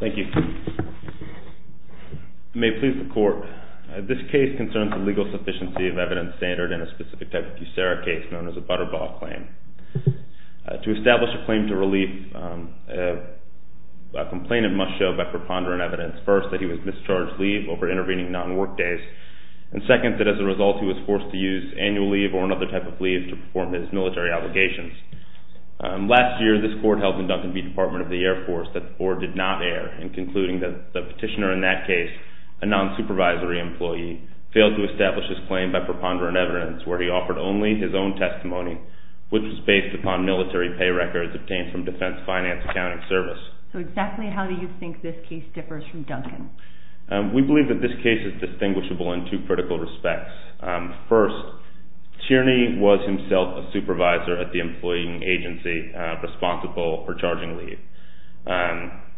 Thank you. May it please the Court, this case concerns a legal sufficiency of evidence standard in a specific type of USERRA case known as a Butterball Claim. To establish a claim to relief, a complainant must show by preponderant evidence, first, that he was mischarged leave over intervening non-work days, and second, that as a result he was forced to use annual leave or another type of leave to perform his military obligations. Last year, this Court held in Duncan v. Department of the Air Force that the Board did not err in concluding that the petitioner in that case, a non-supervisory employee, failed to establish his claim by preponderant evidence where he offered only his own testimony, which was based upon military pay records obtained from Defense Finance Accounting Service. So exactly how do you think this case differs from Duncan? We believe that this case is distinguishable in two critical respects. First, Tierney was himself a supervisor at the employing agency responsible for charging leave.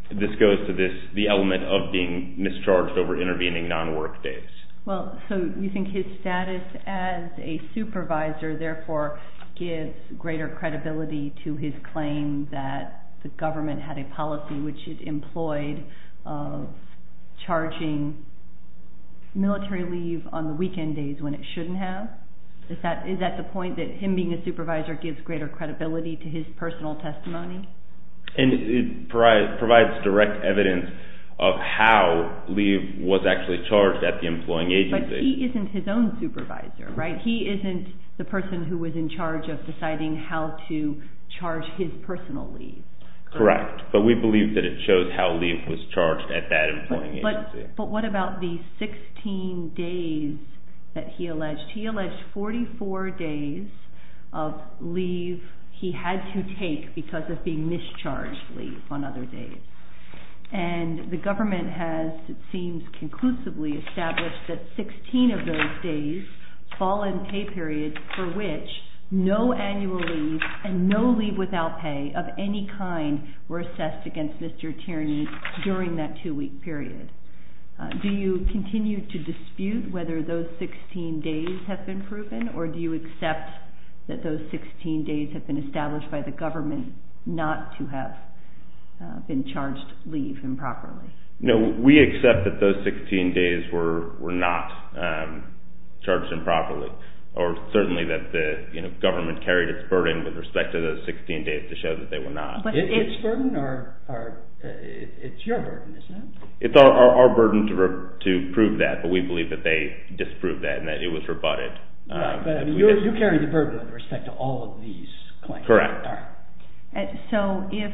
This goes to the element of being mischarged over intervening non-work days. Well, so you think his status as a supervisor, therefore, gives greater credibility to his claim that the government had a policy which it employed of charging military leave on the weekend days when it shouldn't have? Is that the point, that him being a supervisor gives greater credibility to his personal testimony? And it provides direct evidence of how leave was actually charged at the employing agency. But he isn't his own supervisor, right? He isn't the person who was in charge of deciding how to charge his personal leave. Correct. But we believe that it shows how leave was charged at that employing agency. But what about the 16 days that he alleged? He alleged 44 days of leave he had to take because of being mischarged leave on other days. And the government has, it seems, conclusively established that 16 of those days fall in pay periods for which no annual leave and no leave without pay of any kind were assessed against Mr. Tierney during that two-week period. Do you continue to dispute whether those 16 days have been proven, or do you accept that those 16 days have been established by the government not to have been charged leave improperly? No, we accept that those 16 days were not charged improperly, or certainly that the government carried its burden with respect to those 16 days to show that they were not. It's your burden, isn't it? It's our burden to prove that, but we believe that they disproved that and that it was rebutted. Right, but you carry the burden with respect to all of these claims. Correct. So if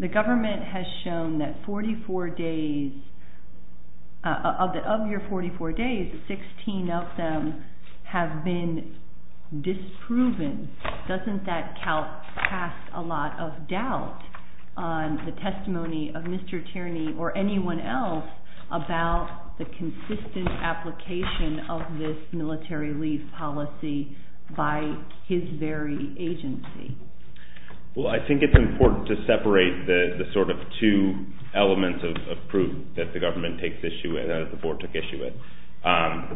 the government has shown that 44 days, of your 44 days, 16 of them have been disproven, doesn't that cast a lot of doubt on the testimony of Mr. Tierney or anyone else about the consistent application of this military leave policy by his very agency? Well, I think it's important to separate the sort of two elements of proof that the government took issue with.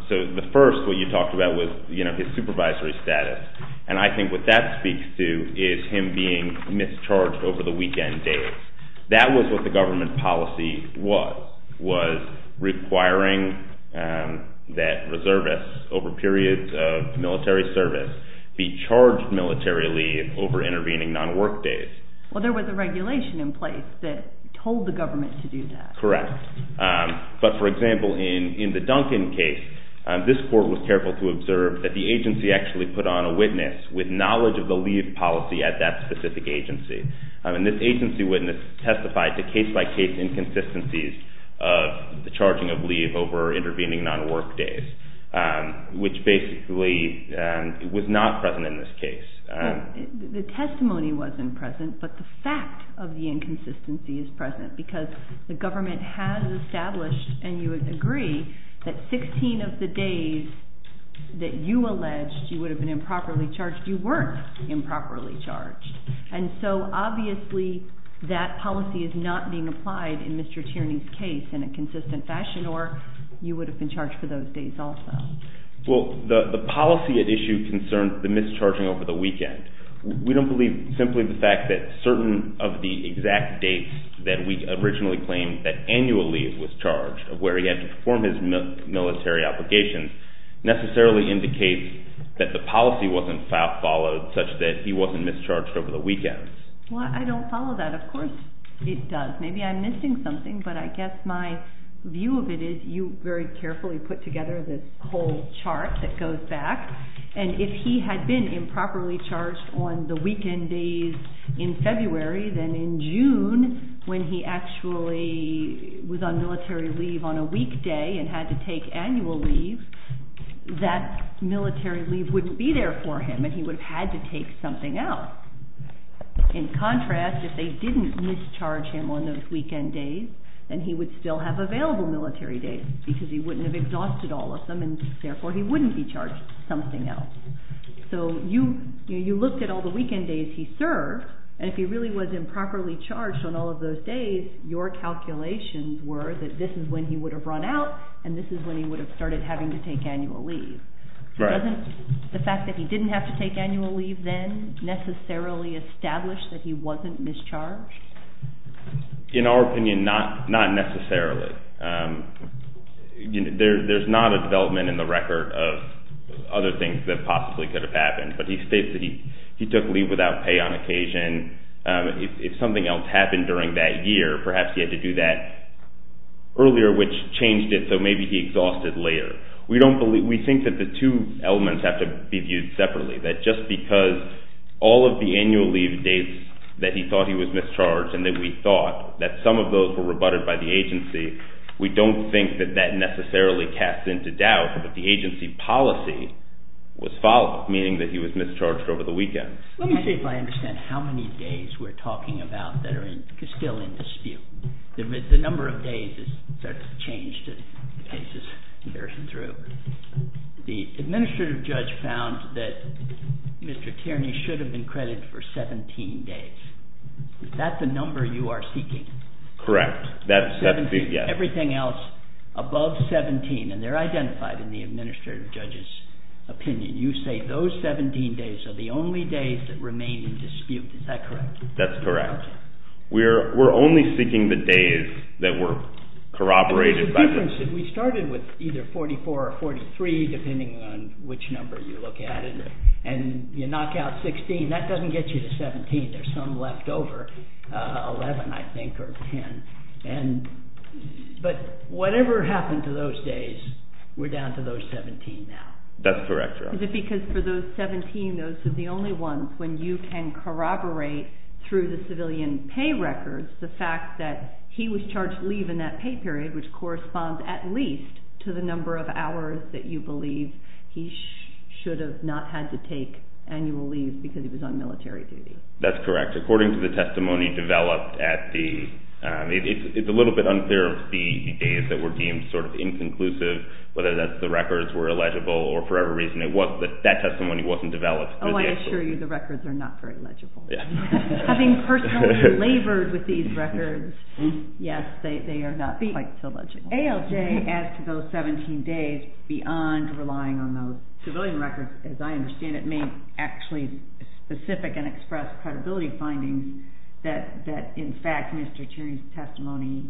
So the first, what you talked about, was his supervisory status, and I think what that speaks to is him being mischarged over the weekend days. That was what the government policy was, was requiring that reservists, over periods of military service, be charged militarily over intervening non-work days. Well, there was a regulation in place that told the government to do that. Correct, but for example, in the Duncan case, this court was careful to observe that the agency actually put on a witness with knowledge of the leave policy at that specific agency. And this agency witness testified to case-by-case inconsistencies of the charging of leave over intervening non-work days, which basically was not present in this case. The testimony wasn't present, but the fact of the inconsistency is present, because the government has established, and you would agree, that 16 of the days that you alleged you would have been improperly charged, you weren't improperly charged. And so obviously that policy is not being applied in Mr. Tierney's case in a consistent fashion, or you would have been charged for those days also. Well, the policy at issue concerns the mischarging over the weekend. We don't believe simply the fact that certain of the exact dates that we originally claimed that annual leave was charged, where he had to perform his military obligations, necessarily indicates that the policy wasn't followed, such that he wasn't mischarged over the weekend. Well, I don't follow that. Of course it does. Maybe I'm missing something, but I guess my view of it is you very carefully put together this whole chart that goes back. And if he had been improperly charged on the weekend days in February, then in June, when he actually was on military leave on a weekday and had to take annual leave, that military leave wouldn't be there for him, and he would have had to take something else. In contrast, if they didn't mischarge him on those weekend days, then he would still have available military days, because he wouldn't have exhausted all of them, and therefore he wouldn't be charged something else. So you looked at all the weekend days he served, and if he really was improperly charged on all of those days, your calculations were that this is when he would have run out, and this is when he would have started having to take annual leave. Right. Doesn't the fact that he didn't have to take annual leave then necessarily establish that he wasn't mischarged? In our opinion, not necessarily. There's not a development in the record of other things that possibly could have happened, but he states that he took leave without pay on occasion. If something else happened during that year, perhaps he had to do that earlier, which changed it so maybe he exhausted later. We think that the two elements have to be viewed separately, that just because all of the annual leave dates that he thought he was mischarged and that we thought that some of those were rebutted by the agency, we don't think that that necessarily casts into doubt that the agency policy was false, meaning that he was mischarged over the weekend. Let me see if I understand how many days we're talking about that are still in dispute. The number of days has sort of changed as the case is carried through. The administrative judge found that Mr. Tierney should have been credited for 17 days. Is that the number you are seeking? Correct. Everything else above 17, and they're identified in the administrative judge's opinion, you say those 17 days are the only days that remain in dispute. Is that correct? That's correct. We're only seeking the days that were corroborated by the agency. We started with either 44 or 43, depending on which number you look at it, and you knock out 16. That doesn't get you to 17. There's some left over, 11 I think or 10. But whatever happened to those days, we're down to those 17 now. That's correct. Is it because for those 17, those are the only ones when you can corroborate through the civilian pay records the fact that he was charged leave in that pay period, which corresponds at least to the number of hours that you believe he should have not had to take annual leave because he was on military duty? That's correct. According to the testimony developed at the end, it's a little bit unfair to see the days that were deemed sort of inconclusive, whether that's the records were illegible or for whatever reason. That testimony wasn't developed. I assure you the records are not very legible. Having personally labored with these records, yes, they are not quite so legible. ALJ adds to those 17 days beyond relying on those civilian records, as I understand it may actually specific and express credibility findings that in fact Mr. Cherry's testimony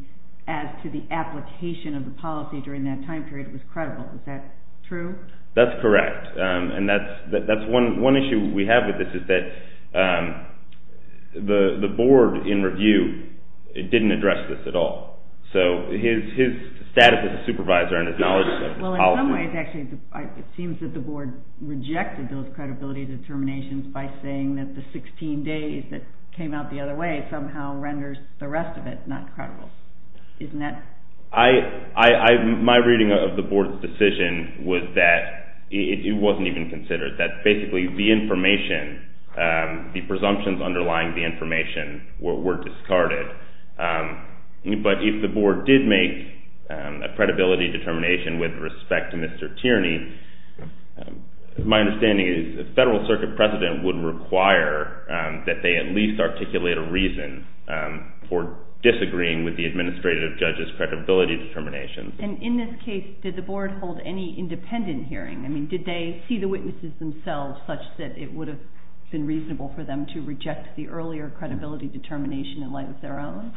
as to the application of the policy during that time period was credible. Is that true? That's correct, and that's one issue we have with this is that the board in review didn't address this at all. So his status as a supervisor and his knowledge of the policy. Well, in some ways, actually, it seems that the board rejected those credibility determinations by saying that the 16 days that came out the other way somehow renders the rest of it not credible. Isn't that? My reading of the board's decision was that it wasn't even considered, that basically the information, the presumptions underlying the information were discarded. But if the board did make a credibility determination with respect to Mr. Tierney, my understanding is the Federal Circuit President would require that they at least articulate a reason for disagreeing with the administrative judge's credibility determinations. And in this case, did the board hold any independent hearing? I mean, did they see the witnesses themselves such that it would have been reasonable for them to reject the earlier credibility determination in light of their own?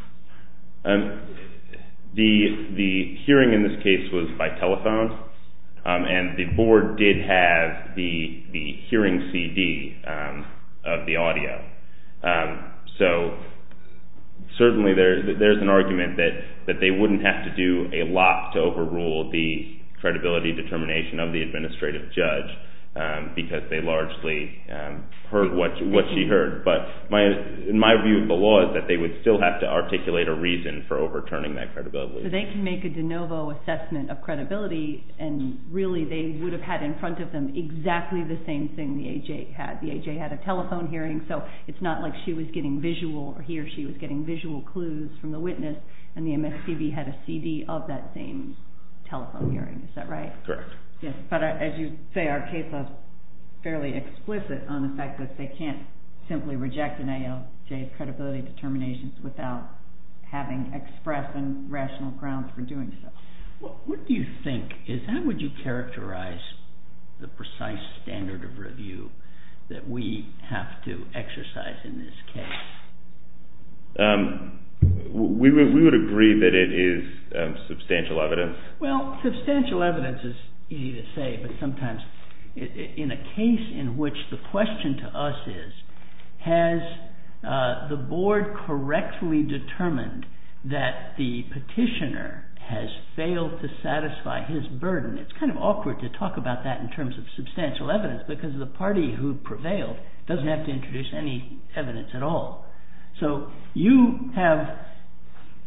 The hearing in this case was by telephone, and the board did have the hearing CD of the audio. So certainly there's an argument that they wouldn't have to do a lot to overrule the credibility determination of the administrative judge because they largely heard what she heard. But my view of the law is that they would still have to articulate a reason for overturning that credibility. So they can make a de novo assessment of credibility, and really they would have had in front of them exactly the same thing the AJ had. The AJ had a telephone hearing, so it's not like she was getting visual or he or she was getting visual clues from the witness, and the MSPB had a CD of that same telephone hearing. Is that right? Correct. But as you say, our case was fairly explicit on the fact that they can't simply reject an ALJ's credibility determinations without having express and rational grounds for doing so. What do you think? How would you characterize the precise standard of review that we have to exercise in this case? We would agree that it is substantial evidence. Well, substantial evidence is easy to say, but sometimes in a case in which the question to us is, has the board correctly determined that the petitioner has failed to satisfy his burden? It's kind of awkward to talk about that in terms of substantial evidence because the party who prevailed doesn't have to introduce any evidence at all. So you have,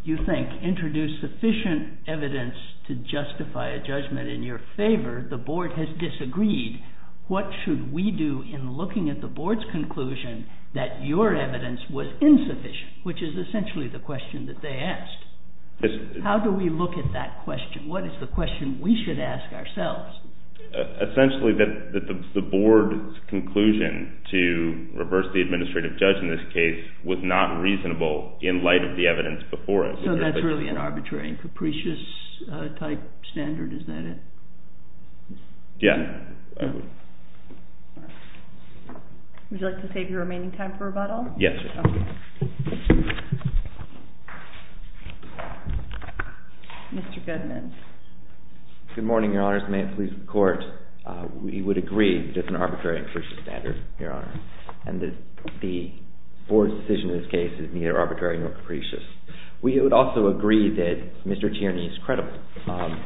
you think, introduced sufficient evidence to justify a judgment in your favor. The board has disagreed. What should we do in looking at the board's conclusion that your evidence was insufficient, which is essentially the question that they asked? How do we look at that question? What is the question we should ask ourselves? Essentially that the board's conclusion to reverse the administrative judge in this case was not reasonable in light of the evidence before it. So that's really an arbitrary and capricious type standard, is that it? Yeah. Would you like to save your remaining time for rebuttal? Yes. Mr. Goodman. Good morning, Your Honors. May it please the Court. We would agree that it's an arbitrary and capricious standard, Your Honor, and that the board's decision in this case is neither arbitrary nor capricious. We would also agree that Mr. Tierney is credible.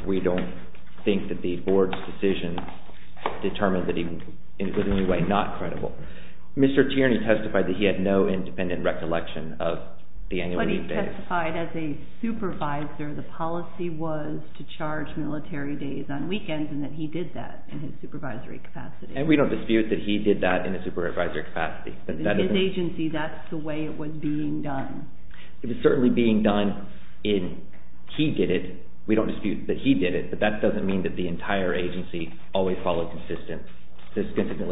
We don't think that the board's decision determined that he was in any way not credible. Mr. Tierney testified that he had no independent recollection of the annual weekdays. But he testified as a supervisor the policy was to charge military days on weekends and that he did that in his supervisory capacity. And we don't dispute that he did that in a supervisory capacity. In his agency, that's the way it was being done. It was certainly being done in he did it. We don't dispute that he did it, but that doesn't mean that the entire agency always followed consistently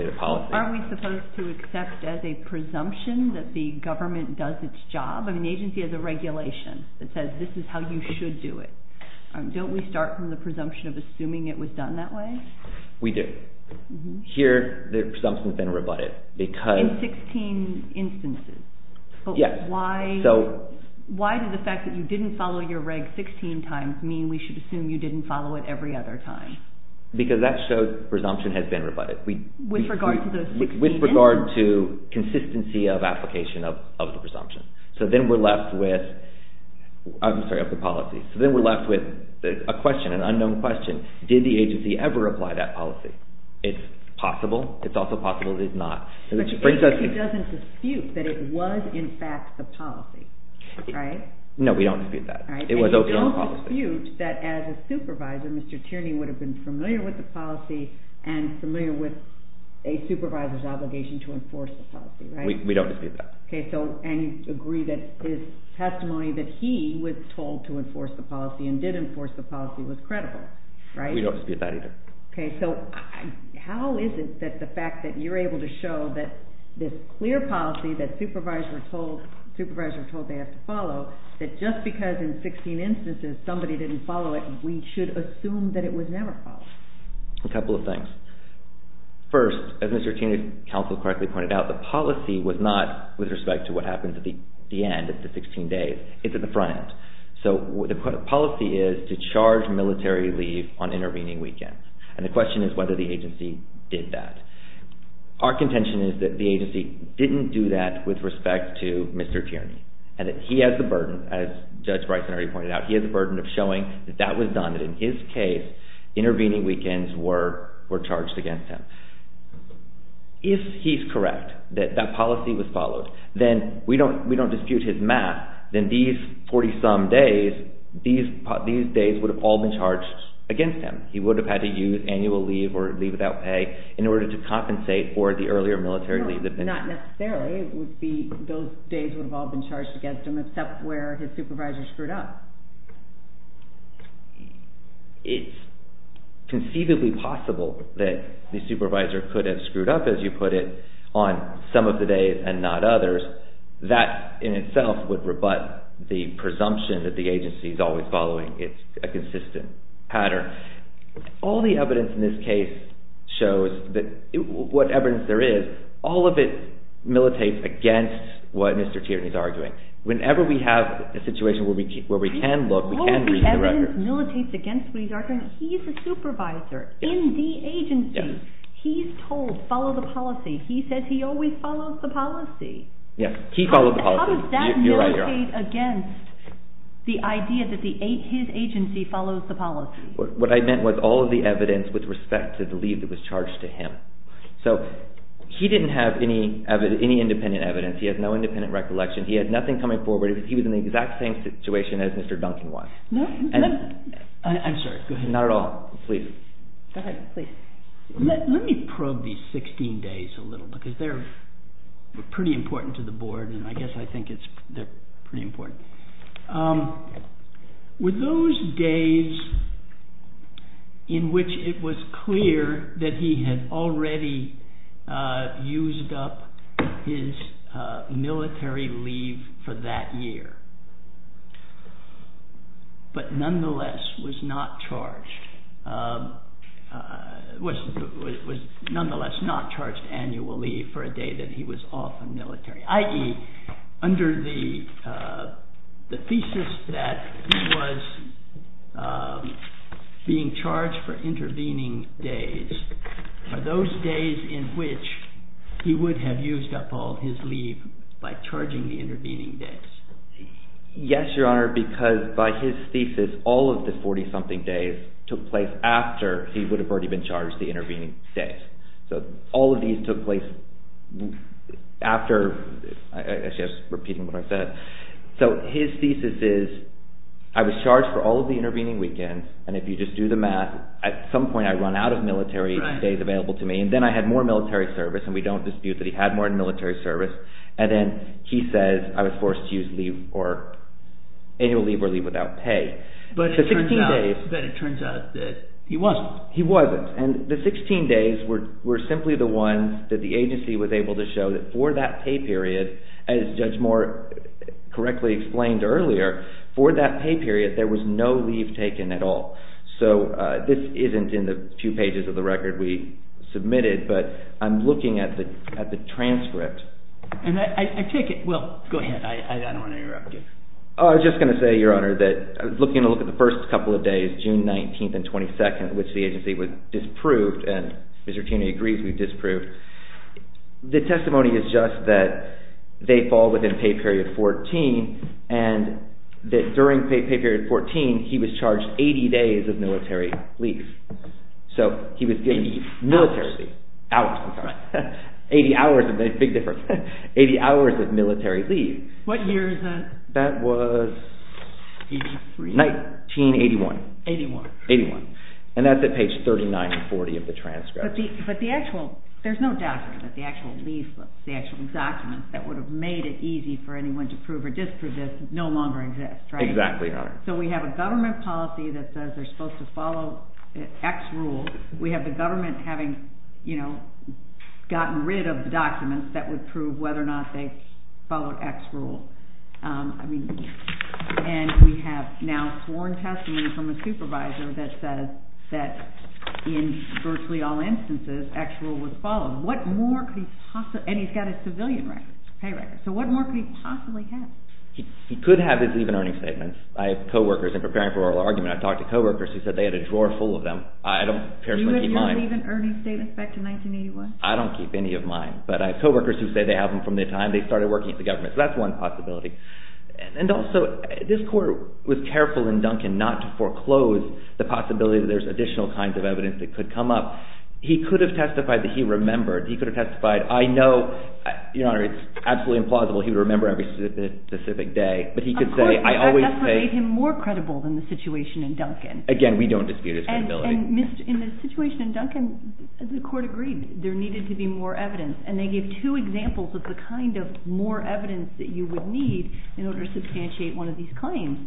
the policy. Aren't we supposed to accept as a presumption that the government does its job? I mean, the agency has a regulation that says this is how you should do it. Don't we start from the presumption of assuming it was done that way? We do. Here, the presumption has been rebutted. In 16 instances? Yes. Why did the fact that you didn't follow your reg 16 times mean we should assume you didn't follow it every other time? Because that shows presumption has been rebutted. With regard to those 16 instances? With regard to consistency of application of the policy. So then we're left with a question, an unknown question. Did the agency ever apply that policy? It's possible. It's also possible it did not. But the agency doesn't dispute that it was, in fact, the policy, right? No, we don't dispute that. And you don't dispute that as a supervisor, Mr. Tierney would have been familiar with the policy and familiar with a supervisor's obligation to enforce the policy, right? We don't dispute that. And you agree that his testimony that he was told to enforce the policy and did enforce the policy was credible, right? We don't dispute that either. Okay, so how is it that the fact that you're able to show that this clear policy that supervisors are told they have to follow, that just because in 16 instances somebody didn't follow it, we should assume that it was never followed? A couple of things. First, as Mr. Tierney's counsel correctly pointed out, the policy was not with respect to what happens at the end, at the 16 days. It's at the front end. So the policy is to charge military leave on intervening weekends. And the question is whether the agency did that. Our contention is that the agency didn't do that with respect to Mr. Tierney and that he has the burden, as Judge Bryson already pointed out, he has the burden of showing that that was done, that in his case intervening weekends were charged against him. If he's correct that that policy was followed, then we don't dispute his math, then these 40-some days, these days would have all been charged against him. He would have had to use annual leave or leave without pay in order to compensate for the earlier military leave. No, not necessarily. Those days would have all been charged against him except where his supervisor screwed up. It's conceivably possible that the supervisor could have screwed up, as you put it, on some of the days and not others. That in itself would rebut the presumption that the agency is always following a consistent pattern. All the evidence in this case shows that whatever there is, all of it militates against what Mr. Tierney is arguing. Whenever we have a situation where we can look, we can read the record. All the evidence militates against what he's arguing. He's the supervisor in the agency. He's told, follow the policy. He says he always follows the policy. He follows the policy. How does that militate against the idea that his agency follows the policy? What I meant was all of the evidence with respect to the leave that was charged to him. He didn't have any independent evidence. He has no independent recollection. He had nothing coming forward. He was in the exact same situation as Mr. Duncan was. I'm sorry. Not at all. Go ahead, please. Let me probe these 16 days a little because they're pretty important to the board, and I guess I think they're pretty important. Were those days in which it was clear that he had already used up his military leave for that year but nonetheless was not charged annually for a day that he was off the military, i.e., under the thesis that he was being charged for intervening days, are those days in which he would have used up all of his leave by charging the intervening days? Yes, Your Honor, because by his thesis, all of the 40-something days took place after he would have already been charged the intervening days. So all of these took place after. I guess I'm just repeating what I said. So his thesis is, I was charged for all of the intervening weekends, and if you just do the math, at some point I run out of military days available to me, and then I had more military service, and we don't dispute that he had more military service, and then he says I was forced to use annual leave or leave without pay. But it turns out that he wasn't. He wasn't. And the 16 days were simply the ones that the agency was able to show that for that pay period, as Judge Moore correctly explained earlier, for that pay period, there was no leave taken at all. So this isn't in the few pages of the record we submitted, but I'm looking at the transcript. And I take it—well, go ahead. I don't want to interrupt you. I was just going to say, Your Honor, that I was looking at the first couple of days, June 19 and 22, which the agency disproved, and Mr. Cuny agrees we disproved. The testimony is just that they fall within pay period 14, and that during pay period 14, he was charged 80 days of military leave. So he was— 80 hours. Hours. I'm sorry. 80 hours of—big difference. 80 hours of military leave. What year is that? That was 1981. 81. 81. And that's at page 39 and 40 of the transcript. But the actual—there's no document that the actual documents that would have made it easy for anyone to prove or disprove this no longer exist, right? Exactly, Your Honor. So we have a government policy that says they're supposed to follow X rule. We have the government having gotten rid of documents that would prove whether or not they followed X rule. And we have now sworn testimony from a supervisor that says that in virtually all instances, X rule was followed. What more could he possibly—and he's got a civilian record, pay record. So what more could he possibly have? He could have his leave and earnings statements. I have co-workers—and preparing for oral argument, I've talked to co-workers who said they had a drawer full of them. I don't personally keep mine. You have your leave and earnings statements back to 1981? I don't keep any of mine. But I have co-workers who say they have them from the time they started working at the government. So that's one possibility. And also, this court was careful in Duncan not to foreclose the possibility that there's additional kinds of evidence that could come up. He could have testified that he remembered. He could have testified, I know, Your Honor, it's absolutely implausible he would remember every specific day. But he could say, I always say— Of course, that's what made him more credible than the situation in Duncan. Again, we don't dispute his credibility. And in the situation in Duncan, the court agreed there needed to be more evidence. And they gave two examples of the kind of more evidence that you would need in order to substantiate one of these claims.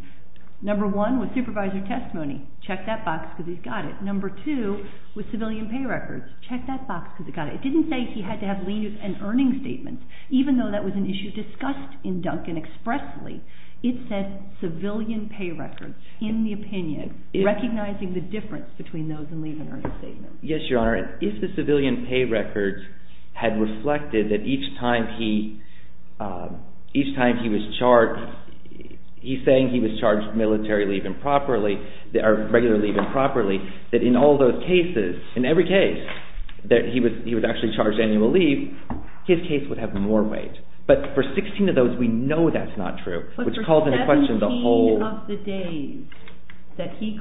Number one was supervisor testimony. Check that box because he's got it. Number two was civilian pay records. Check that box because he's got it. It didn't say he had to have leave and earnings statements, even though that was an issue discussed in Duncan expressly. It said civilian pay records, in the opinion, recognizing the difference between those and leave and earnings statements. Yes, Your Honor. If the civilian pay records had reflected that each time he was charged, he's saying he was charged military leave improperly, or regular leave improperly, that in all those cases, in every case that he was actually charged annual leave, his case would have more weight. But for 16 of those, we know that's not true, which calls into question the whole— that he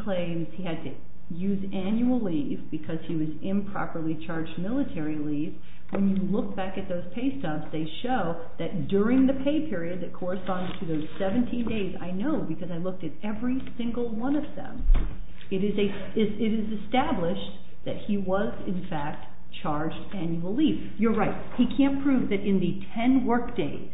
was improperly charged military leave. When you look back at those pay stubs, they show that during the pay period that corresponds to those 17 days— I know because I looked at every single one of them— it is established that he was, in fact, charged annual leave. You're right. He can't prove that in the 10 work days,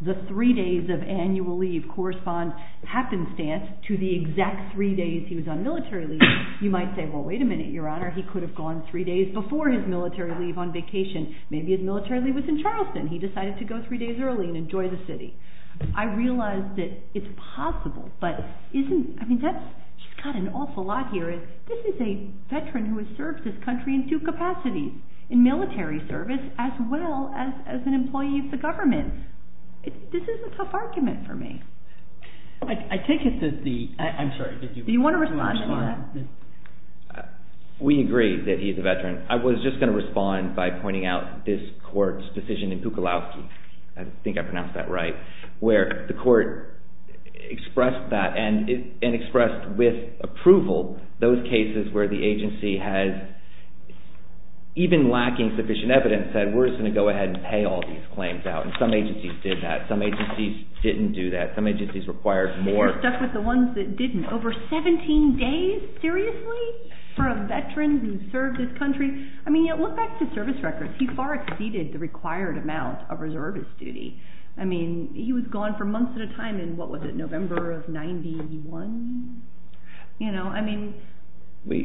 the three days of annual leave correspond, happenstance, to the exact three days he was on military leave. You might say, well, wait a minute, Your Honor. He could have gone three days before his military leave on vacation. Maybe his military leave was in Charleston. He decided to go three days early and enjoy the city. I realize that it's possible, but isn't—I mean, that's—he's got an awful lot here. This is a veteran who has served this country in two capacities, in military service as well as an employee of the government. This is a tough argument for me. I take it that the—I'm sorry. Do you want to respond to that? We agree that he's a veteran. I was just going to respond by pointing out this court's decision in Pukolowski—I think I pronounced that right— where the court expressed that and expressed with approval those cases where the agency has, even lacking sufficient evidence, said, we're just going to go ahead and pay all these claims out, and some agencies did that. Some agencies didn't do that. Some agencies required more. We're stuck with the ones that didn't. Over 17 days? Seriously? For a veteran who served this country? I mean, look back to service records. He far exceeded the required amount of reservist duty. I mean, he was gone for months at a time in—what was it—November of 91? You know, I mean,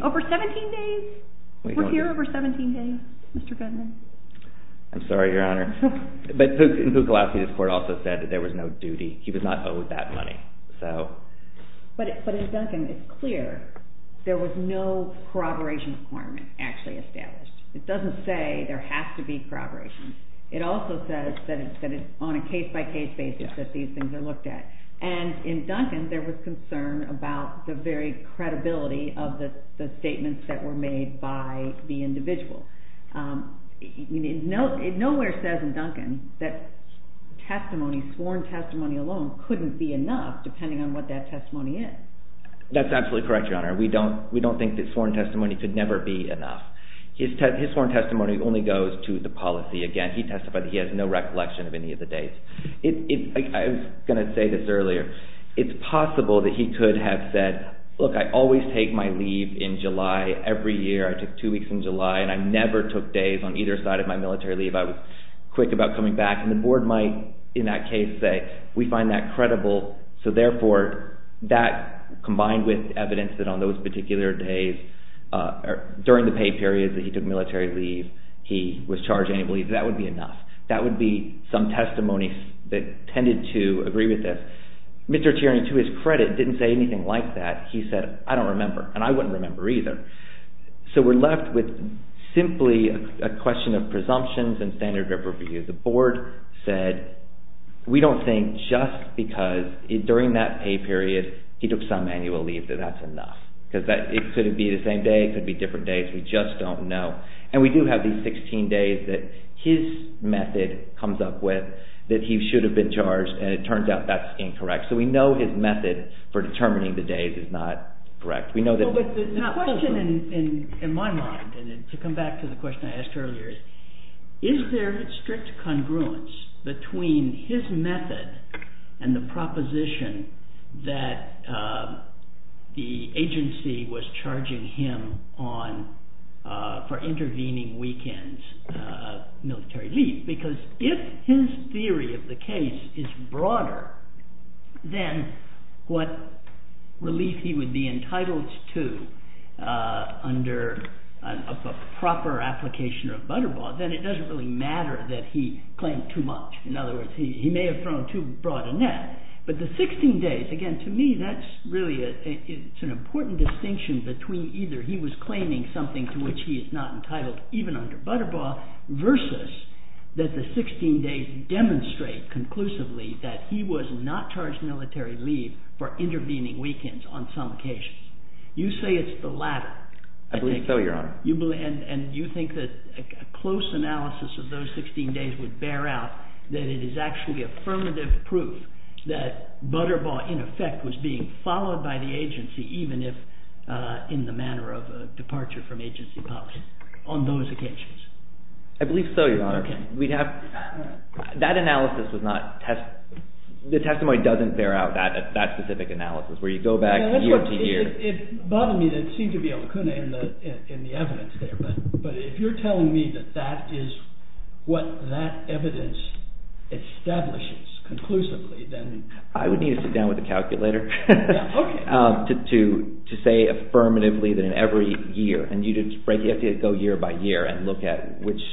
over 17 days? We're here over 17 days, Mr. Fenneman? I'm sorry, Your Honor. But Pukolowski's court also said that there was no duty. He was not owed that money. But in Duncan, it's clear there was no corroboration requirement actually established. It doesn't say there has to be corroboration. It also says that it's on a case-by-case basis that these things are looked at. And in Duncan, there was concern about the very credibility of the statements that were made by the individual. Nowhere says in Duncan that sworn testimony alone couldn't be enough, depending on what that testimony is. That's absolutely correct, Your Honor. We don't think that sworn testimony could never be enough. His sworn testimony only goes to the policy. Again, he testified that he has no recollection of any of the days. I was going to say this earlier. It's possible that he could have said, look, I always take my leave in July. Every year, I took two weeks in July, and I never took days on either side of my military leave. I was quick about coming back. And the board might, in that case, say, we find that credible. So, therefore, that combined with evidence that on those particular days, during the pay period that he took military leave, he was charged any leave, that would be enough. That would be some testimony that tended to agree with this. Mr. Tierney, to his credit, didn't say anything like that. He said, I don't remember, and I wouldn't remember either. So, we're left with simply a question of presumptions and standard of review. The board said, we don't think just because during that pay period, he took some annual leave, that that's enough. Because it could be the same day. It could be different days. We just don't know. And we do have these 16 days that his method comes up with that he should have been charged, and it turns out that's incorrect. So, we know his method for determining the days is not correct. The question in my mind, and to come back to the question I asked earlier, is there strict congruence between his method and the proposition that the agency was charging him for intervening weekends military leave? Because if his theory of the case is broader than what relief he would be entitled to under a proper application of Butterball, then it doesn't really matter that he claimed too much. In other words, he may have thrown too broad a net. But the 16 days, again, to me, that's really an important distinction between either he was claiming something to which he is not entitled, even under Butterball, versus that the 16 days demonstrate conclusively that he was not charged military leave for intervening weekends on some occasions. You say it's the latter. I believe so, Your Honor. And you think that a close analysis of those 16 days would bear out that it is actually affirmative proof that Butterball, in effect, was being followed by the agency, even if in the manner of a departure from agency policy on those occasions? I believe so, Your Honor. Okay. We'd have – that analysis was not – the testimony doesn't bear out that specific analysis, where you go back year to year. It bothered me that it seemed to be a lacuna in the evidence there. But if you're telling me that that is what that evidence establishes conclusively, then – I would need to sit down with a calculator to say affirmatively that in every year – and you have to go year by year and look at which –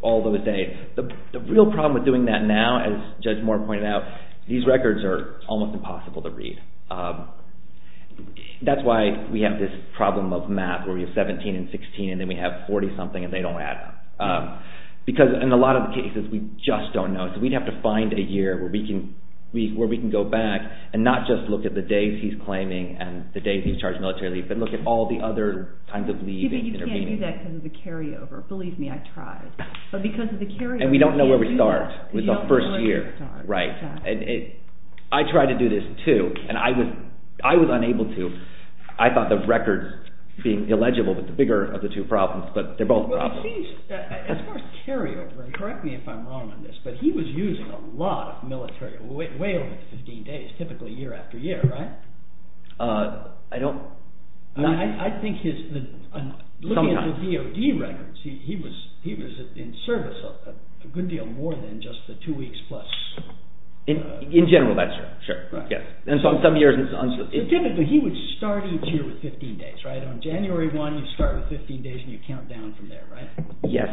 all those days. The real problem with doing that now, as Judge Moore pointed out, these records are almost impossible to read. That's why we have this problem of math, where we have 17 and 16 and then we have 40-something and they don't add up. Because in a lot of the cases, we just don't know. So we'd have to find a year where we can go back and not just look at the days he's claiming and the days he's charged military leave, but look at all the other kinds of leave and intervening days. And we don't know where we start with the first year. I tried to do this too, and I was unable to. I thought the records being illegible was the bigger of the two problems, but they're both problems. As far as carryover, correct me if I'm wrong on this, but he was using a lot of military – way over 15 days, typically year after year, right? I don't – I think his – looking at the DOD records, he was in service a good deal more than just the two weeks plus. In general, that's true. Typically, he would start each year with 15 days, right? On January 1, you'd start with 15 days and you'd count down from there, right? Yes.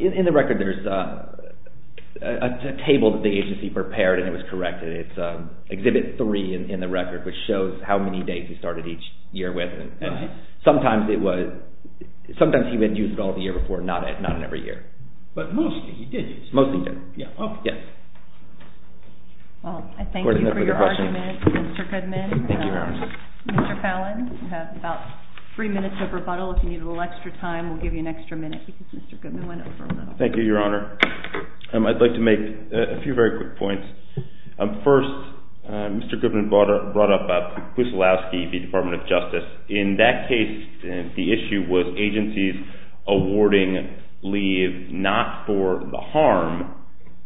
In the record, there's a table that the agency prepared and it was corrected. It's Exhibit 3 in the record, which shows how many days he started each year with. Sometimes it was – sometimes he would use it all the year before, not in every year. But mostly he did use it. Mostly he did, yes. Well, I thank you for your argument, Mr. Goodman. Thank you, Your Honor. Mr. Fallon, you have about three minutes of rebuttal. If you need a little extra time, we'll give you an extra minute because Mr. Goodman went over a little. Thank you, Your Honor. I'd like to make a few very quick points. First, Mr. Goodman brought up Kusilowski v. Department of Justice. In that case, the issue was agencies awarding leave not for the harm,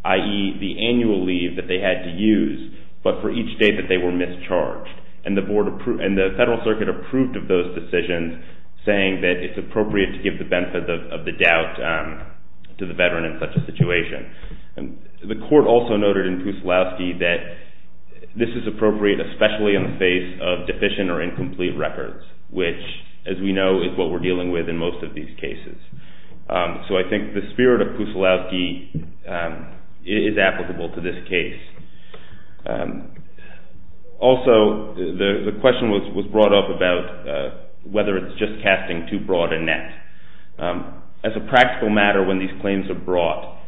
i.e., the annual leave that they had to use, but for each day that they were mischarged. And the Federal Circuit approved of those decisions, saying that it's appropriate to give the benefit of the doubt to the veteran in such a situation. The court also noted in Kusilowski that this is appropriate, especially in the face of deficient or incomplete records, which, as we know, is what we're dealing with in most of these cases. So I think the spirit of Kusilowski is applicable to this case. Also, the question was brought up about whether it's just casting too broad a net. As a practical matter, when these claims are brought,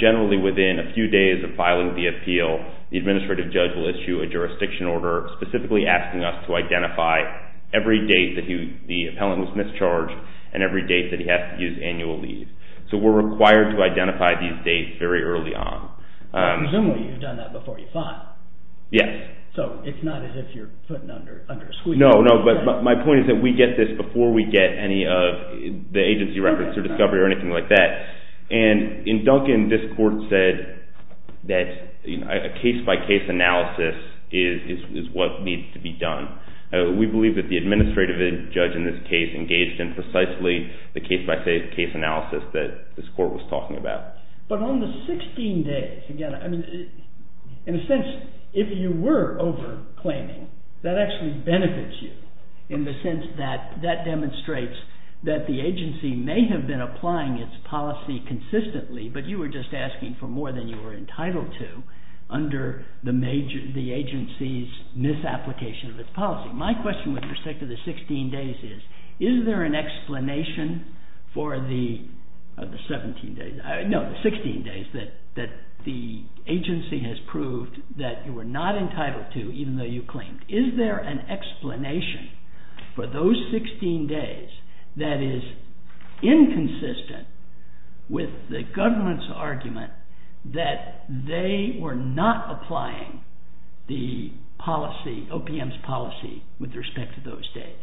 generally within a few days of filing the appeal, the administrative judge will issue a jurisdiction order specifically asking us to identify every date that the appellant was mischarged and every date that he has to use annual leave. So we're required to identify these dates very early on. Presumably you've done that before you filed. Yes. So it's not as if you're putting it under a squeegee. No, no, but my point is that we get this before we get any of the agency records or discovery or anything like that. And in Duncan, this court said that a case-by-case analysis is what needs to be done. We believe that the administrative judge in this case engaged in precisely the case-by-case analysis that this court was talking about. But on the 16 days, again, in a sense, if you were over claiming, that actually benefits you in the sense that that demonstrates that the agency may have been applying its policy consistently, but you were just asking for more than you were entitled to under the agency's misapplication of its policy. My question with respect to the 16 days is, is there an explanation for the 17 days? No, the 16 days that the agency has proved that you were not entitled to even though you claimed. Is there an explanation for those 16 days that is inconsistent with the government's argument that they were not applying the policy, OPM's policy, with respect to those days?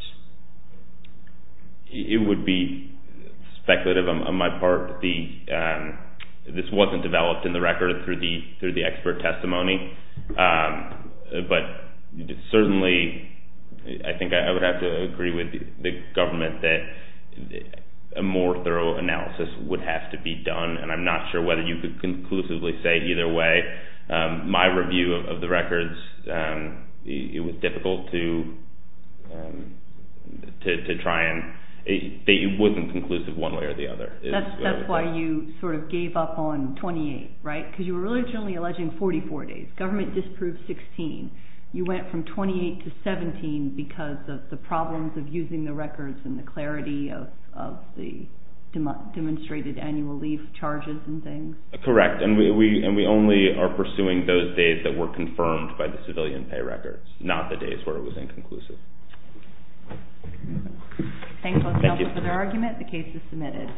It would be speculative on my part. This wasn't developed in the record through the expert testimony. But certainly, I think I would have to agree with the government that a more thorough analysis would have to be done, and I'm not sure whether you could conclusively say either way. My review of the records, it was difficult to try and say it wasn't conclusive one way or the other. That's why you sort of gave up on 28, right? Because you were originally alleging 44 days. Government disproved 16. You went from 28 to 17 because of the problems of using the records and the clarity of the demonstrated annual leave charges and things. Correct, and we only are pursuing those days that were confirmed by the civilian pay records, not the days where it was inconclusive. Thank you. That concludes the argument. The case is submitted.